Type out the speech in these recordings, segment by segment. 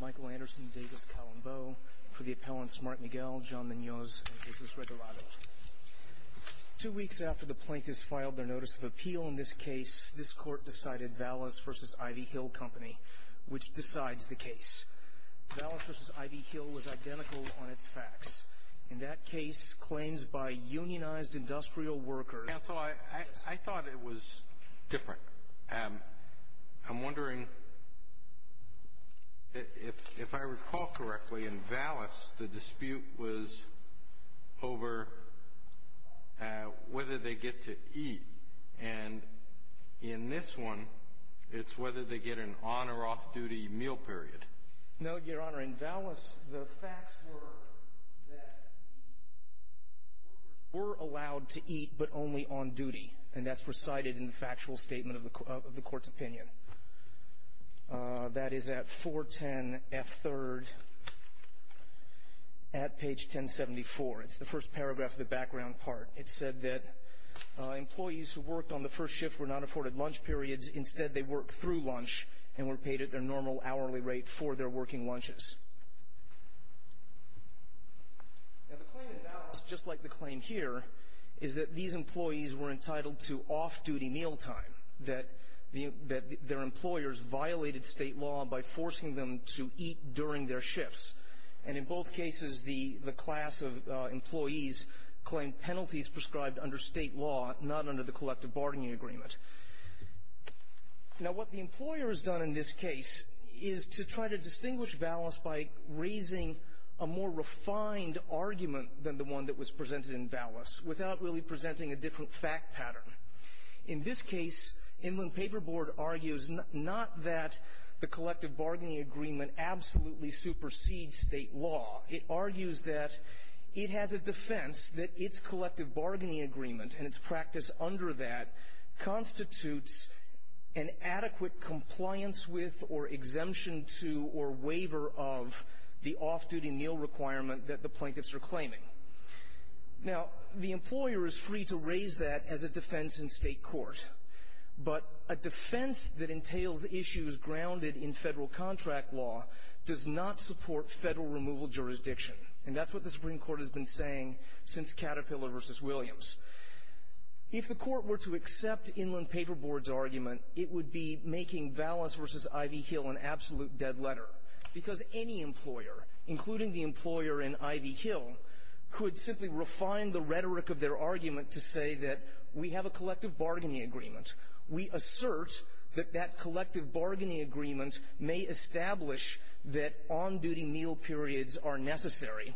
Michael Anderson, Davis, Calambo Appellants Mark Miguel, John Munoz, and Jesus Regalado Two weeks after the plaintiffs filed their notice of appeal in this case, this Court decided Vallis v. Ivy Hill Company, which decides the case. Vallis v. Ivy Hill was identical on its facts. In that case, claims by unionized industrial workers in Vallis v. Ivy Hill was identical on its facts. No, Your Honor. In Vallis, the facts were that the workers were allowed to eat, but only on duty. And that's recited in the factual statement of the Court's opinion. That is at 410 F. 3rd at page 1074. It's the first paragraph of the background part. It said that employees who worked on the first shift were not afforded lunch periods. Instead, they worked through lunch and were paid at their normal hourly rate for their working lunches. Now, the claim in Vallis, just like the claim here, is that these employees were entitled to off-duty mealtime. That their employers violated state law by forcing them to eat during their shifts. And in both cases, the class of employees claimed penalties prescribed under state law, not under the collective bargaining agreement. Now, what the employer has done in this case is to try to distinguish Vallis by raising a more refined argument than the one that was presented in Vallis, without really presenting a different fact pattern. In this case, Inland Paperboard argues not that the collective bargaining agreement absolutely supersedes state law. It argues that it has a defense that its collective bargaining agreement and its practice under that constitutes an adequate compliance with or exemption to or waiver of the off-duty meal requirement that the plaintiffs are claiming. Now, the employer is free to raise that as a defense in state court. But a defense that entails issues grounded in federal contract law does not support federal removal jurisdiction. And that's what the Supreme Court has been saying since Caterpillar v. Williams. If the Court were to accept Inland Paperboard's argument, it would be making Vallis v. Ivy Hill an absolute dead letter. Because any employer, including the employer in Ivy Hill, could simply refine the rhetoric of their argument to say that we have a collective bargaining agreement. We assert that that collective bargaining agreement may establish that on-duty meal periods are necessary.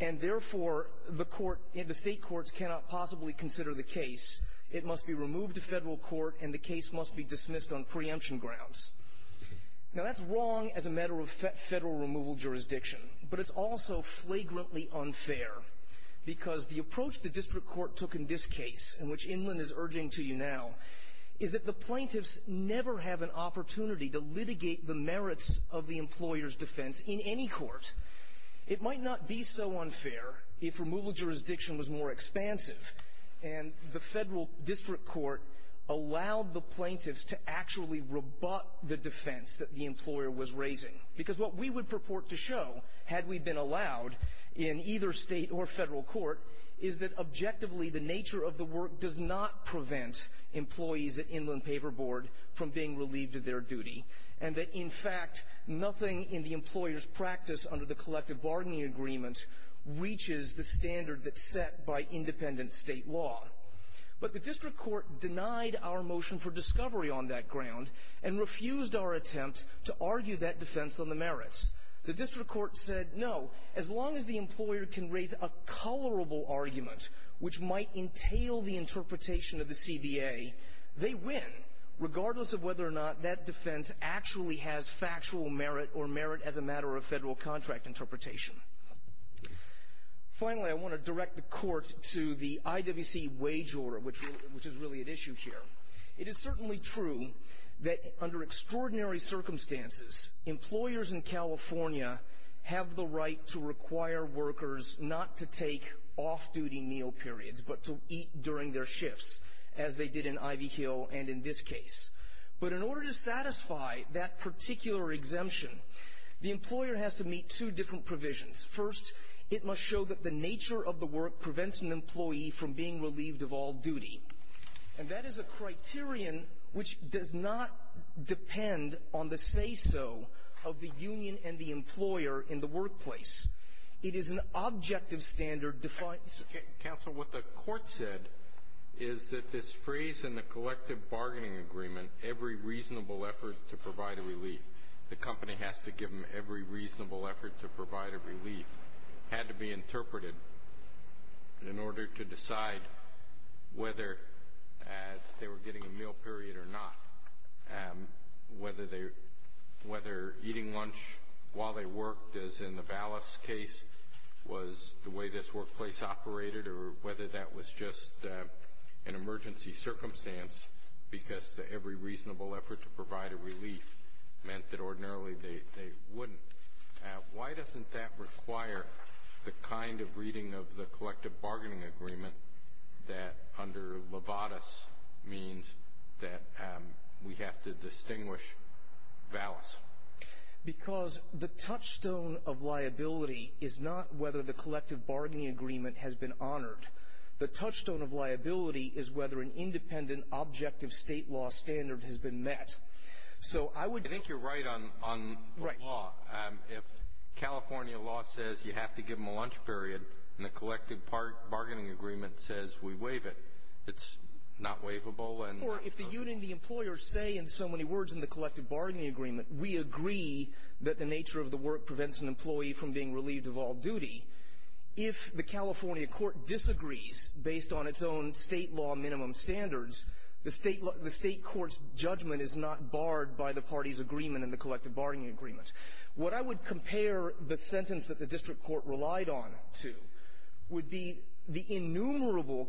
And therefore, the state courts cannot possibly consider the case. It must be removed to federal court, and the case must be dismissed on preemption grounds. Now, that's wrong as a matter of federal removal jurisdiction. But it's also flagrantly unfair. Because the approach the district court took in this case, in which Inland is urging to you now, is that the plaintiffs never have an opportunity to litigate the merits of the employer's defense in any court. It might not be so unfair if removal jurisdiction was more expansive, and the federal district court allowed the plaintiffs to actually rebut the defense that the employer was raising. Because what we would purport to show, had we been allowed in either state or federal court, is that objectively the nature of the work does not prevent employees at Inland Paperboard from being relieved of their duty. And that, in fact, nothing in the employer's practice under the collective bargaining agreement reaches the standard that's set by independent state law. But the district court denied our motion for discovery on that ground, and refused our attempt to argue that defense on the merits. The district court said, no, as long as the employer can raise a colorable argument which might entail the interpretation of the CBA, they win, regardless of whether or not that defense actually has factual merit or merit as a matter of federal contract interpretation. Finally, I want to direct the court to the IWC wage order, which is really at issue here. It is certainly true that under extraordinary circumstances, employers in California have the right to require workers not to take off-duty meal periods, but to eat during their shifts, as they did in Ivy Hill and in this case. But in order to satisfy that particular exemption, the employer has to meet two different provisions. First, it must show that the nature of the work prevents an employee from being relieved of all duty. And that is a criterion which does not depend on the say-so of the union and the employer in the workplace. It is an objective standard defined — The company has to give them every reasonable effort to provide a relief. It had to be interpreted in order to decide whether they were getting a meal period or not, whether eating lunch while they worked, as in the Ballas case, was the way this workplace operated, or whether that was just an emergency circumstance. Because every reasonable effort to provide a relief meant that ordinarily they wouldn't. Why doesn't that require the kind of reading of the collective bargaining agreement that under Lovatus means that we have to distinguish Ballas? Because the touchstone of liability is not whether the collective bargaining agreement has been honored. The touchstone of liability is whether an independent, objective state law standard has been met. So I would — I think you're right on the law. If California law says you have to give them a lunch period, and the collective bargaining agreement says we waive it, it's not waivable? Or if the union and the employer say in so many words in the collective bargaining agreement, we agree that the nature of the work prevents an employee from being relieved of all duty, if the California court disagrees based on its own state law minimum standards, the state court's judgment is not barred by the party's agreement in the collective bargaining agreement. What I would compare the sentence that the district court relied on to would be the innumerable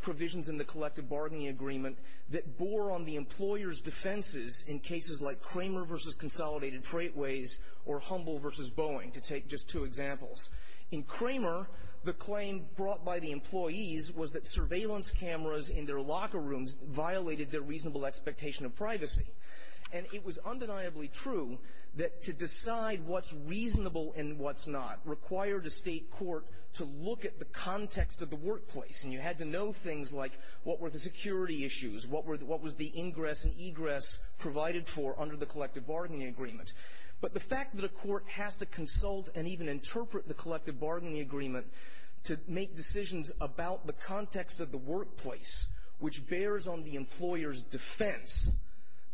provisions in the collective bargaining agreement that bore on the employer's defenses in cases like Kramer v. Consolidated Freightways or Humble v. Boeing, to take just two examples. In Kramer, the claim brought by the employees was that surveillance cameras in their locker rooms violated their reasonable expectation of privacy. And it was undeniably true that to decide what's reasonable and what's not required a state court to look at the context of the workplace. And you had to know things like what were the security issues, what was the ingress and egress provided for under the collective bargaining agreement. But the fact that a court has to consult and even interpret the collective bargaining agreement to make decisions about the context of the workplace, which bears on the employer's defense,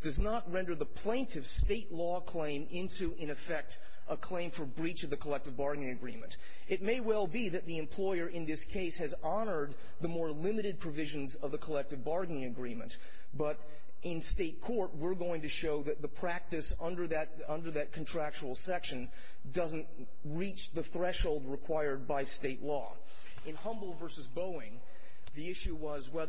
does not render the plaintiff's state law claim into, in effect, a claim for breach of the collective bargaining agreement. It may well be that the employer in this case has honored the more limited provisions of the collective bargaining agreement. But in state court, we're going to show that the practice under that contractual section doesn't reach the threshold required by state law. I would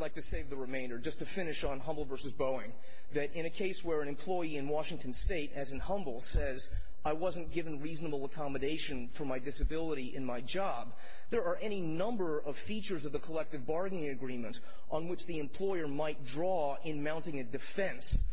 like to save the remainder, just to finish on Humble v. Boeing, that in a case where an employee in Washington State, as in Humble, says, I wasn't given reasonable accommodation for my disability in my job, and I'm not getting a lot of questions, do you want to save any? There are any number of features of the collective bargaining agreement on which the employer might draw in mounting a defense.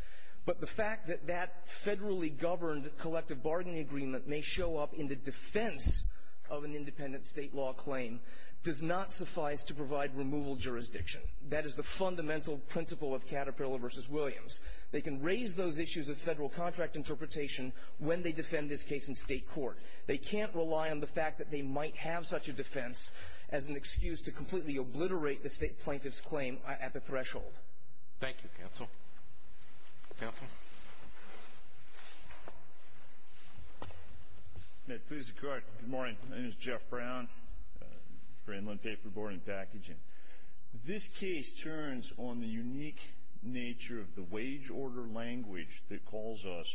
But the fact that that federally governed collective bargaining agreement may show up in the defense of an independent state law claim does not suffice to provide removal jurisdiction. That is the fundamental principle of Caterpillar v. Williams. They can raise those issues of federal contract interpretation when they defend this case in state court. They can't rely on the fact that they might have such a defense as an excuse to completely obliterate the state plaintiff's claim at the threshold. Thank you, counsel. Counsel? Good morning. My name is Jeff Brown. This case turns on the unique nature of the wage order language that calls us.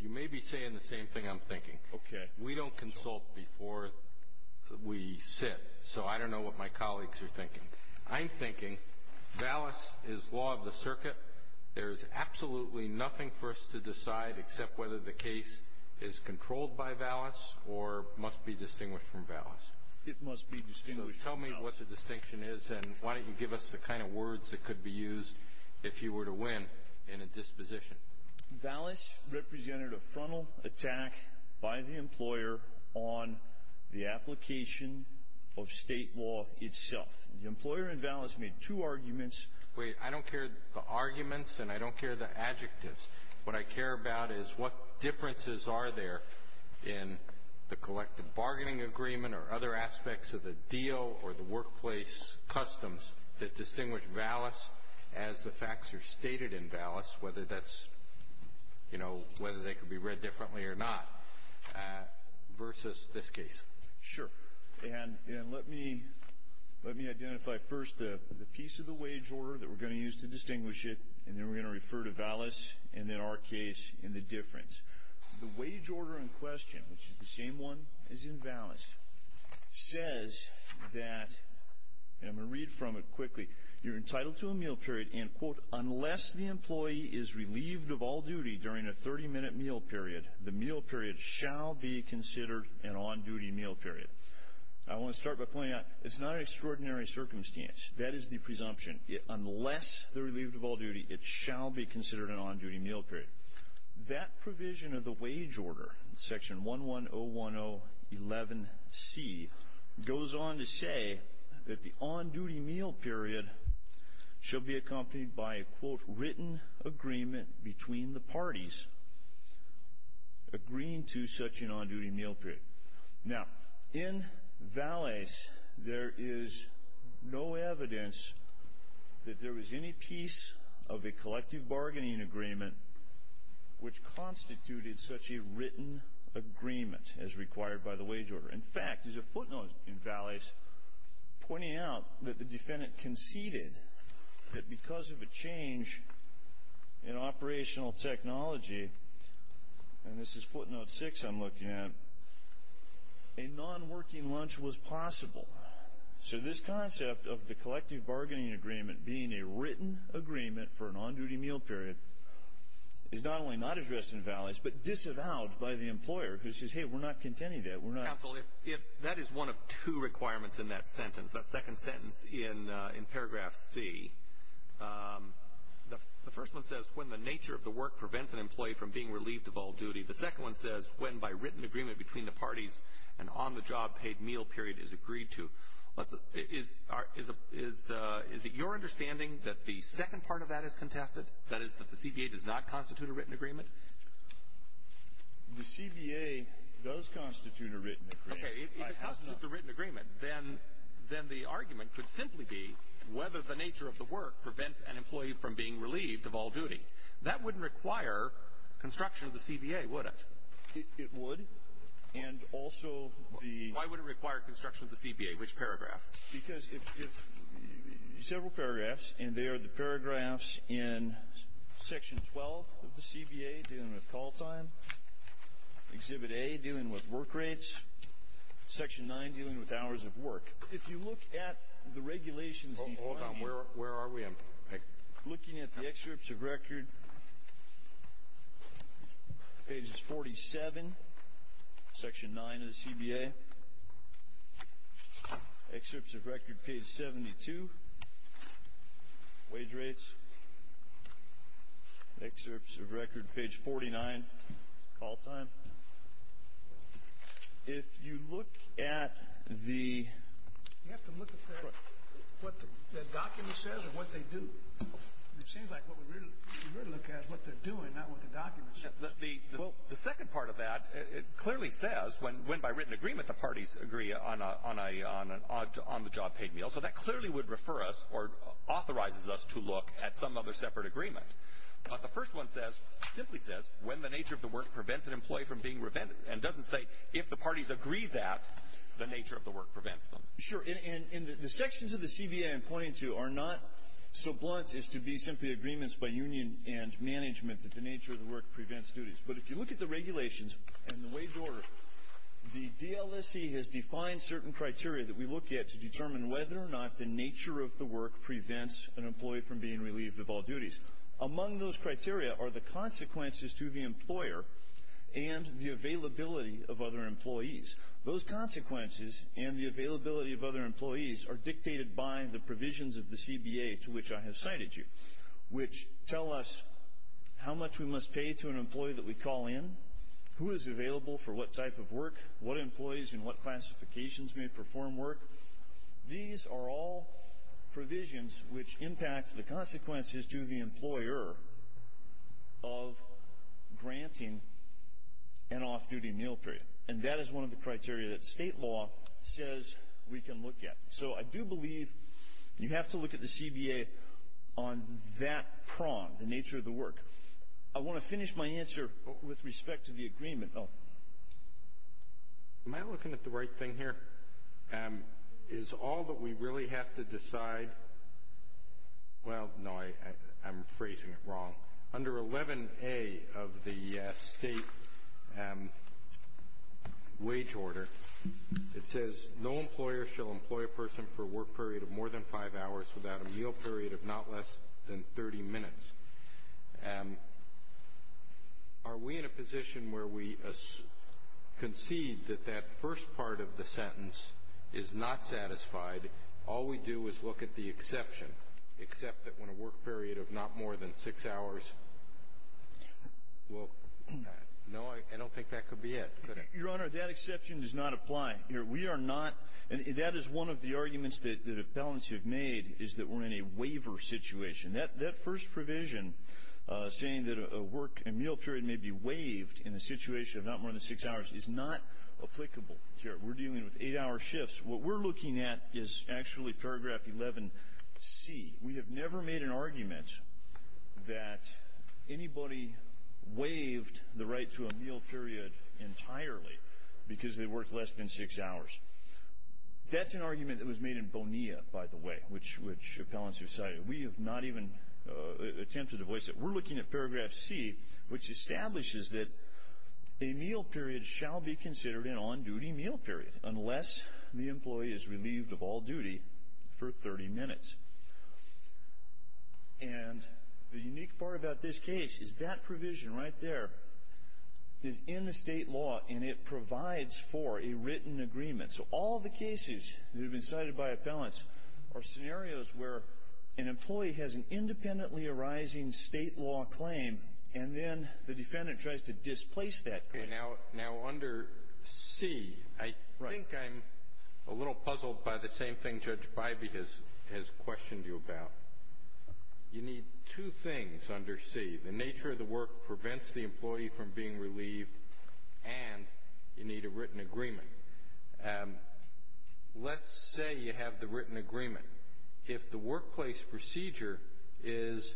You may be saying the same thing I'm thinking. Okay. We don't consult before we sit, so I don't know what my colleagues are thinking. I'm thinking, valis is law of the circuit. There is absolutely nothing for us to decide except whether the case is controlled by valis or must be distinguished from valis. It must be distinguished from valis. So tell me what the distinction is, and why don't you give us the kind of words that could be used if you were to win in a disposition. Valis represented a frontal attack by the employer on the application of state law itself. The employer in valis made two arguments. Wait. I don't care the arguments, and I don't care the adjectives. What I care about is what differences are there in the collective bargaining agreement or other aspects of the deal or the workplace customs that distinguish valis as the facts are stated in valis, whether that's, you know, whether they could be read differently or not, versus this case. Sure. And let me identify first the piece of the wage order that we're going to use to distinguish it, and then we're going to refer to valis, and then our case and the difference. The wage order in question, which is the same one as in valis, says that, and I'm going to read from it quickly, you're entitled to a meal period and, quote, unless the employee is relieved of all duty during a 30-minute meal period, the meal period shall be considered an on-duty meal period. I want to start by pointing out it's not an extraordinary circumstance. That is the presumption. Unless they're relieved of all duty, it shall be considered an on-duty meal period. That provision of the wage order, section 1101011C, goes on to say that the on-duty meal period shall be accompanied by a, quote, written agreement between the parties agreeing to such an on-duty meal period. Now, in valis, there is no evidence that there was any piece of a collective bargaining agreement which constituted such a written agreement as required by the wage order. In fact, there's a footnote in valis pointing out that the defendant conceded that because of a change in operational technology, and this is footnote 6 I'm looking at, a non-working lunch was possible. So this concept of the collective bargaining agreement being a written agreement for an on-duty meal period is not only not addressed in valis, but disavowed by the employer, who says, hey, we're not contending that. Counsel, if that is one of two requirements in that sentence, that second sentence in paragraph C, the first one says when the nature of the work prevents an employee from being relieved of all duty. The second one says when, by written agreement between the parties, an on-the-job paid meal period is agreed to. Is it your understanding that the second part of that is contested, that is, that the CBA does not constitute a written agreement? The CBA does constitute a written agreement. Okay. If it constitutes a written agreement, then the argument could simply be whether the nature of the work prevents an employee from being relieved of all duty. That wouldn't require construction of the CBA, would it? It would. And also the — Why would it require construction of the CBA? Which paragraph? Because if several paragraphs, and they are the paragraphs in Section 12 of the CBA dealing with call time, Exhibit A dealing with work rates, Section 9 dealing with hours of work. If you look at the regulations defined here — Hold on. Where are we? Looking at the excerpts of record, pages 47, Section 9 of the CBA, excerpts of record page 72, wage rates, excerpts of record page 49, call time. If you look at the — It seems like what we really look at is what they're doing, not what the documents say. Well, the second part of that, it clearly says when, by written agreement, the parties agree on the job paid meal. So that clearly would refer us or authorizes us to look at some other separate agreement. But the first one says, simply says, when the nature of the work prevents an employee from being revenged. And it doesn't say if the parties agree that, the nature of the work prevents them. Sure, and the sections of the CBA I'm pointing to are not so blunt as to be simply agreements by union and management that the nature of the work prevents duties. But if you look at the regulations and the wage order, the DLSE has defined certain criteria that we look at to determine whether or not the nature of the work prevents an employee from being relieved of all duties. Among those criteria are the consequences to the employer and the availability of other employees. Those consequences and the availability of other employees are dictated by the provisions of the CBA to which I have cited you, which tell us how much we must pay to an employee that we call in, who is available for what type of work, what employees and what classifications may perform work. These are all provisions which impact the consequences to the employer of granting an off-duty meal period. And that is one of the criteria that state law says we can look at. So I do believe you have to look at the CBA on that prong, the nature of the work. I want to finish my answer with respect to the agreement. Am I looking at the right thing here? Is all that we really have to decide? Well, no, I'm phrasing it wrong. Under 11A of the state wage order, it says, no employer shall employ a person for a work period of more than five hours without a meal period of not less than 30 minutes. Are we in a position where we concede that that first part of the sentence is not satisfied? All we do is look at the exception, except that when a work period of not more than six hours, well, no, I don't think that could be it, could it? Your Honor, that exception does not apply here. We are not – that is one of the arguments that appellants have made, is that we're in a waiver situation. That first provision, saying that a meal period may be waived in a situation of not more than six hours, is not applicable here. We're dealing with eight-hour shifts. What we're looking at is actually paragraph 11C. We have never made an argument that anybody waived the right to a meal period entirely because they worked less than six hours. That's an argument that was made in Bonilla, by the way, which appellants have cited. We have not even attempted to voice it. We're looking at paragraph C, which establishes that a meal period shall be considered an on-duty meal period unless the employee is relieved of all duty for 30 minutes. And the unique part about this case is that provision right there is in the state law, and it provides for a written agreement. So all the cases that have been cited by appellants are scenarios where an employee has an independently arising state law claim, and then the defendant tries to displace that claim. Now, under C, I think I'm a little puzzled by the same thing Judge Bybee has questioned you about. You need two things under C. The nature of the work prevents the employee from being relieved, and you need a written agreement. Let's say you have the written agreement. If the workplace procedure is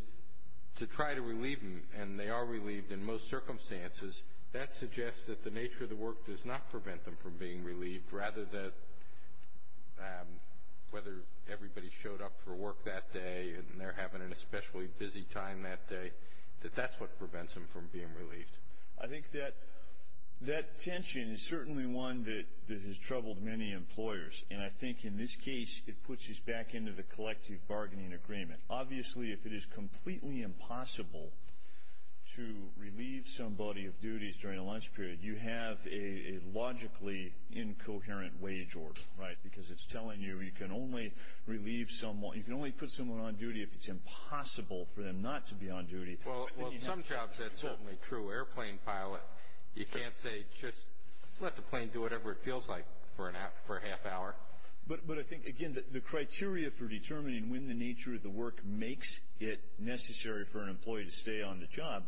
to try to relieve them, and they are relieved in most circumstances, that suggests that the nature of the work does not prevent them from being relieved, rather that whether everybody showed up for work that day and they're having an especially busy time that day, that that's what prevents them from being relieved. I think that that tension is certainly one that has troubled many employers, and I think in this case it puts us back into the collective bargaining agreement. Obviously, if it is completely impossible to relieve somebody of duties during a lunch period, you have a logically incoherent wage order, right, because it's telling you you can only put someone on duty if it's impossible for them not to be on duty. Well, in some jobs that's certainly true. Airplane pilot, you can't say just let the plane do whatever it feels like for a half hour. But I think, again, the criteria for determining when the nature of the work makes it necessary for an employee to stay on the job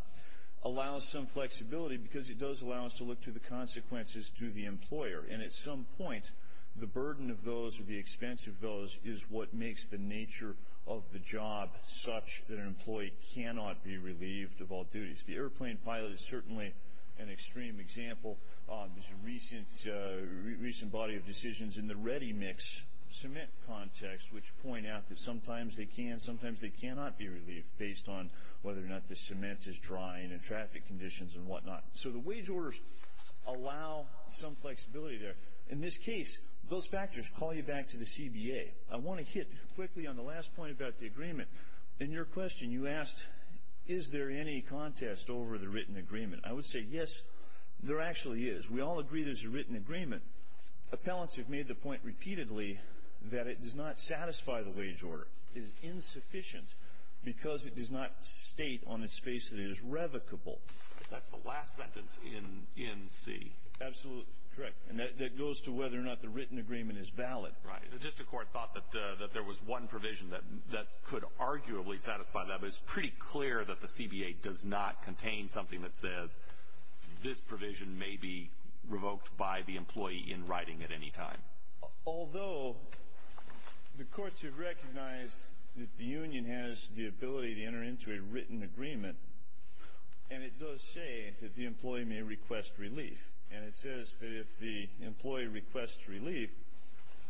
allows some flexibility because it does allow us to look to the consequences to the employer, and at some point the burden of those or the expense of those is what makes the nature of the job such that an employee cannot be relieved of all duties. The airplane pilot is certainly an extreme example. There's a recent body of decisions in the ready mix cement context which point out that sometimes they can, sometimes they cannot be relieved based on whether or not the cement is drying and traffic conditions and whatnot. So the wage orders allow some flexibility there. In this case, those factors call you back to the CBA. I want to hit quickly on the last point about the agreement. In your question, you asked is there any contest over the written agreement. I would say, yes, there actually is. We all agree there's a written agreement. Appellants have made the point repeatedly that it does not satisfy the wage order. It is insufficient because it does not state on its face that it is revocable. That's the last sentence in C. Absolutely. Correct. And that goes to whether or not the written agreement is valid. Right. The district court thought that there was one provision that could arguably satisfy that, but it's pretty clear that the CBA does not contain something that says this provision may be revoked by the employee in writing at any time. Although the courts have recognized that the union has the ability to enter into a written agreement, and it does say that the employee may request relief, and it says that if the employee requests relief,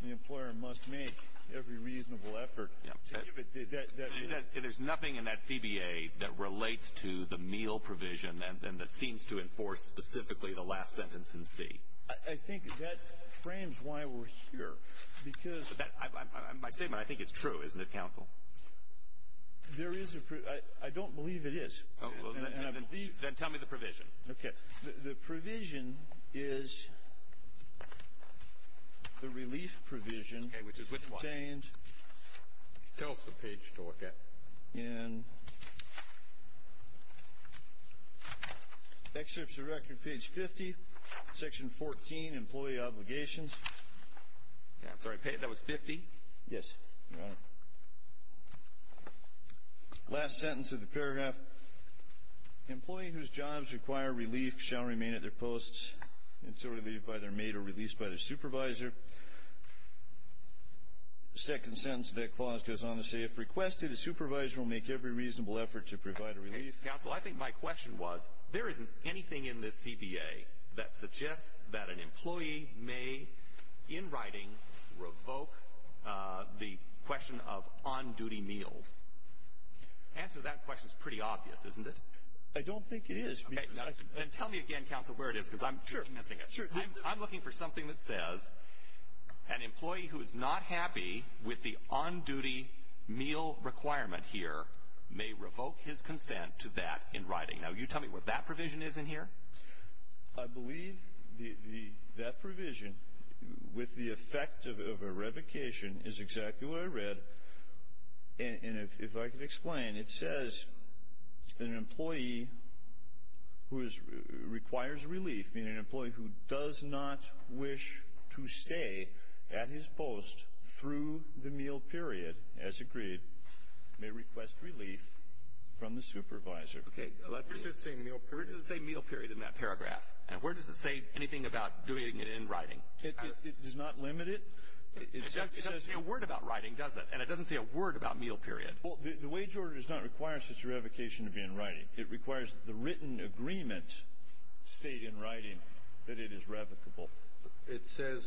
the employer must make every reasonable effort to give it that relief. There's nothing in that CBA that relates to the meal provision and that seems to enforce specifically the last sentence in C. I think that frames why we're here, because — My statement, I think, is true, isn't it, counsel? There is a — I don't believe it is. Then tell me the provision. Okay. The provision is the relief provision — Okay. Which is which one? Tell us the page to look at. In Excerpts of Record, page 50, section 14, Employee Obligations. I'm sorry, that was 50? Yes, Your Honor. Last sentence of the paragraph, Employee whose jobs require relief shall remain at their posts until relieved by their maid or released by their supervisor. The second sentence of that clause goes on to say, If requested, a supervisor will make every reasonable effort to provide a relief. Counsel, I think my question was, there isn't anything in this CBA that suggests that an employee may, in writing, revoke the question of on-duty meals. The answer to that question is pretty obvious, isn't it? I don't think it is. Okay. Then tell me again, counsel, where it is, because I'm missing it. Sure. I'm looking for something that says, An employee who is not happy with the on-duty meal requirement here may revoke his consent to that in writing. Now, will you tell me what that provision is in here? I believe that provision, with the effect of a revocation, is exactly what I read. And if I could explain, it says, An employee who requires relief, meaning an employee who does not wish to stay at his post through the meal period, as agreed, Okay. Where does it say meal period in that paragraph? And where does it say anything about doing it in writing? It does not limit it. It doesn't say a word about writing, does it? And it doesn't say a word about meal period. Well, the wage order does not require such a revocation to be in writing. It requires that the written agreements state in writing that it is revocable. It says,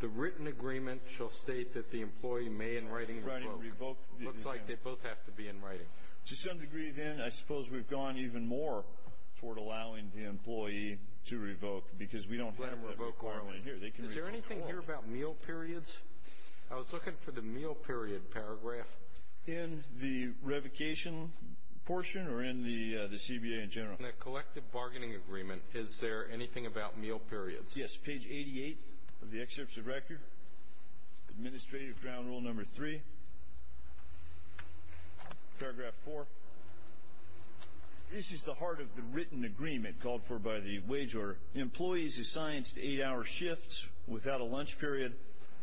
The written agreement shall state that the employee may, in writing, revoke. Looks like they both have to be in writing. To some degree, then, I suppose we've gone even more toward allowing the employee to revoke because we don't have that requirement here. Is there anything here about meal periods? I was looking for the meal period paragraph. In the revocation portion or in the CBA in general? In the collective bargaining agreement, is there anything about meal periods? Yes, page 88 of the excerpt of record, administrative ground rule number 3, paragraph 4. This is the heart of the written agreement called for by the wage order. Employees assigned to eight-hour shifts without a lunch period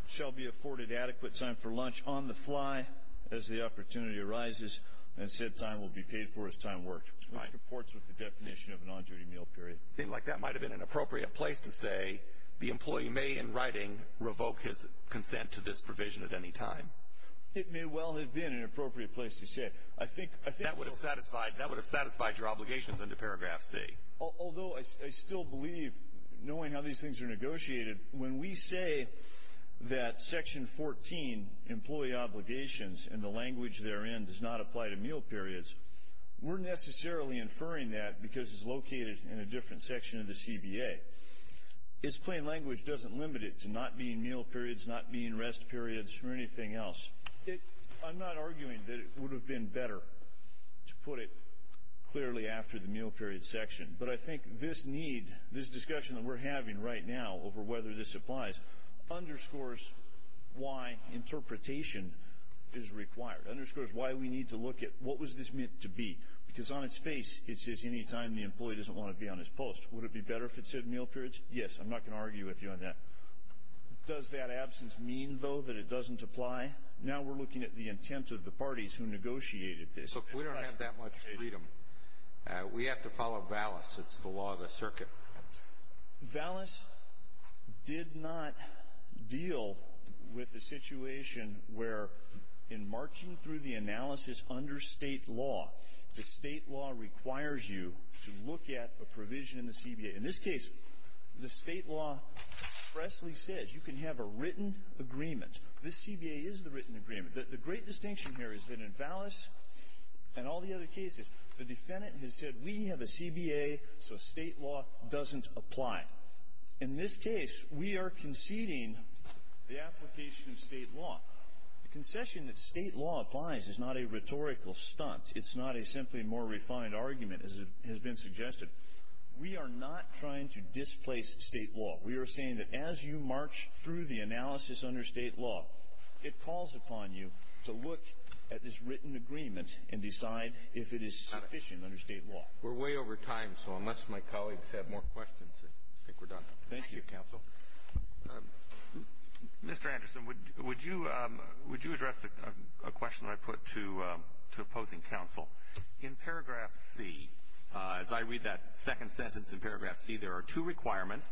shall be afforded adequate time for lunch on the fly as the opportunity arises and said time will be paid for as time worked. This reports with the definition of an on-duty meal period. I think that might have been an appropriate place to say the employee may, in writing, revoke his consent to this provision at any time. It may well have been an appropriate place to say it. That would have satisfied your obligations under paragraph C. Although I still believe, knowing how these things are negotiated, when we say that section 14, employee obligations, and the language therein does not apply to meal periods, we're necessarily inferring that because it's located in a different section of the CBA. It's plain language doesn't limit it to not being meal periods, not being rest periods, or anything else. I'm not arguing that it would have been better to put it clearly after the meal period section, but I think this need, this discussion that we're having right now over whether this applies, underscores why interpretation is required, underscores why we need to look at what was this meant to be, because on its face it says any time the employee doesn't want to be on his post. Would it be better if it said meal periods? Yes, I'm not going to argue with you on that. Does that absence mean, though, that it doesn't apply? Now we're looking at the intent of the parties who negotiated this. Look, we don't have that much freedom. We have to follow valis. It's the law of the circuit. Valis did not deal with the situation where in marching through the analysis under State law, the State law requires you to look at a provision in the CBA. In this case, the State law expressly says you can have a written agreement. This CBA is the written agreement. The great distinction here is that in valis and all the other cases, the defendant has said we have a CBA, so State law doesn't apply. In this case, we are conceding the application of State law. The concession that State law applies is not a rhetorical stunt. It's not a simply more refined argument, as has been suggested. We are not trying to displace State law. We are saying that as you march through the analysis under State law, it calls upon you to look at this written agreement and decide if it is sufficient under State law. We're way over time, so unless my colleagues have more questions, I think we're done. Thank you, Counsel. Mr. Anderson, would you address a question that I put to opposing counsel? In paragraph C, as I read that second sentence in paragraph C, there are two requirements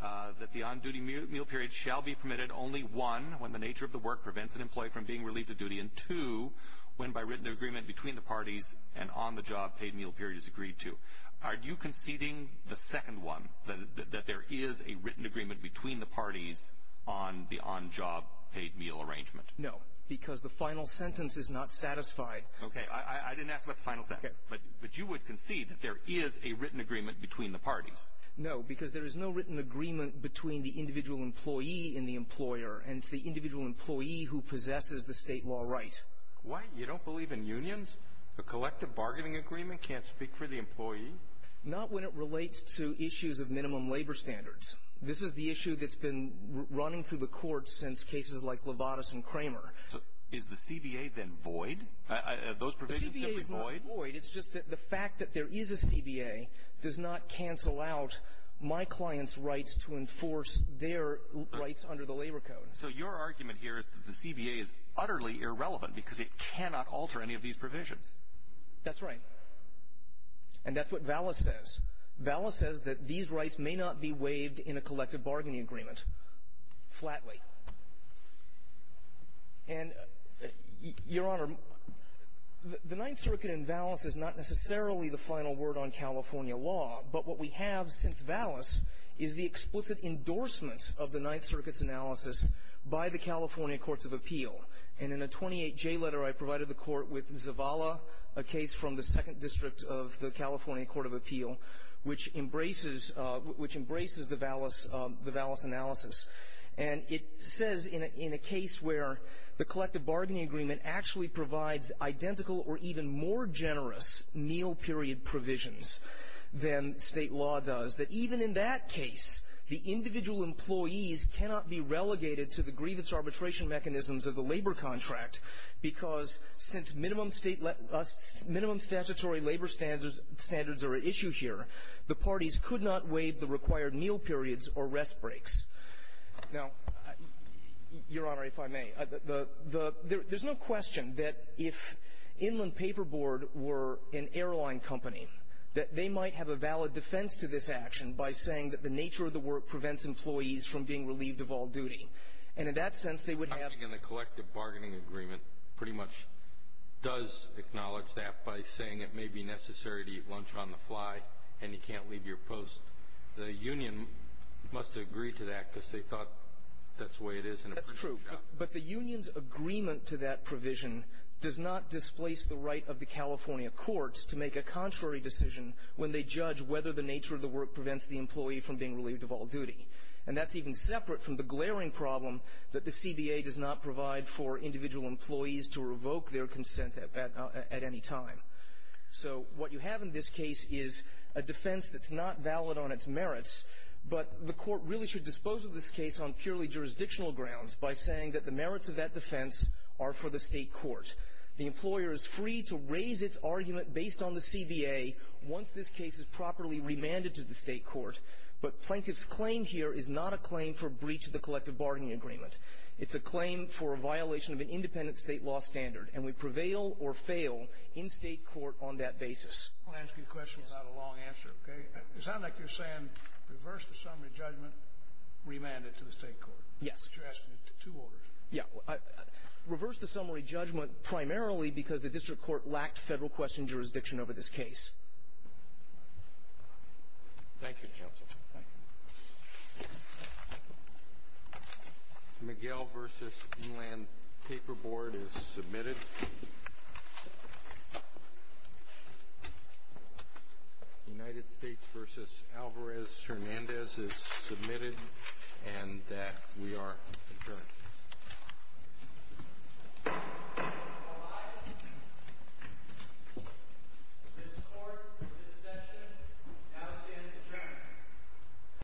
that the on-duty meal period shall be permitted, only one, when the nature of the work prevents an employee from being relieved of duty, and two, when by written agreement between the parties an on-the-job paid meal period is agreed to. Are you conceding the second one, that there is a written agreement between the parties on the on-job paid meal arrangement? No, because the final sentence is not satisfied. Okay. I didn't ask about the final sentence. Okay. But you would concede that there is a written agreement between the parties. No, because there is no written agreement between the individual employee and the employer, and it's the individual employee who possesses the State law right. What? You don't believe in unions? A collective bargaining agreement can't speak for the employee? Not when it relates to issues of minimum labor standards. This is the issue that's been running through the courts since cases like Lovatus and Kramer. So is the CBA then void? Are those provisions simply void? They're not void. It's just that the fact that there is a CBA does not cancel out my client's rights to enforce their rights under the Labor Code. So your argument here is that the CBA is utterly irrelevant because it cannot alter any of these provisions. That's right. And that's what Vallis says. Vallis says that these rights may not be waived in a collective bargaining agreement flatly. And, Your Honor, the Ninth Circuit in Vallis is not necessarily the final word on California law, but what we have since Vallis is the explicit endorsement of the Ninth Circuit's analysis by the California Courts of Appeal. And in a 28J letter, I provided the Court with Zavala, a case from the Second District of the California Court of Appeal, which embraces the Vallis analysis. And it says in a case where the collective bargaining agreement actually provides identical or even more generous meal period provisions than state law does, that even in that case, the individual employees cannot be relegated to the grievance arbitration mechanisms of the labor contract because since minimum statutory labor standards are at issue here, the parties could not waive the required meal periods or rest breaks. Now, Your Honor, if I may, the — there's no question that if Inland Paperboard were an airline company, that they might have a valid defense to this action by saying that the nature of the work prevents employees from being relieved of all duty. And in that sense, they would have — In the collective bargaining agreement, pretty much does acknowledge that by saying it may be necessary to eat lunch on the fly and you can't leave your post. The union must agree to that because they thought that's the way it is in a — That's true. But the union's agreement to that provision does not displace the right of the California courts to make a contrary decision when they judge whether the nature of the work prevents the employee from being relieved of all duty. And that's even separate from the glaring problem that the CBA does not provide for So what you have in this case is a defense that's not valid on its merits, but the court really should dispose of this case on purely jurisdictional grounds by saying that the merits of that defense are for the state court. The employer is free to raise its argument based on the CBA once this case is properly remanded to the state court. But Plaintiff's claim here is not a claim for breach of the collective bargaining agreement. It's a claim for a violation of an independent state law standard. And we prevail or fail in state court on that basis. I want to ask you a question without a long answer, okay? It sounds like you're saying reverse the summary judgment, remand it to the state court. Yes. But you're asking it to two orders. Yeah. Reverse the summary judgment primarily because the district court lacked federal question jurisdiction over this case. Thank you, counsel. Thank you. Thank you. Miguel versus Inland Taper Board is submitted. United States versus Alvarez Hernandez is submitted. And that we are adjourned. All rise. This court, this session, now stands adjourned.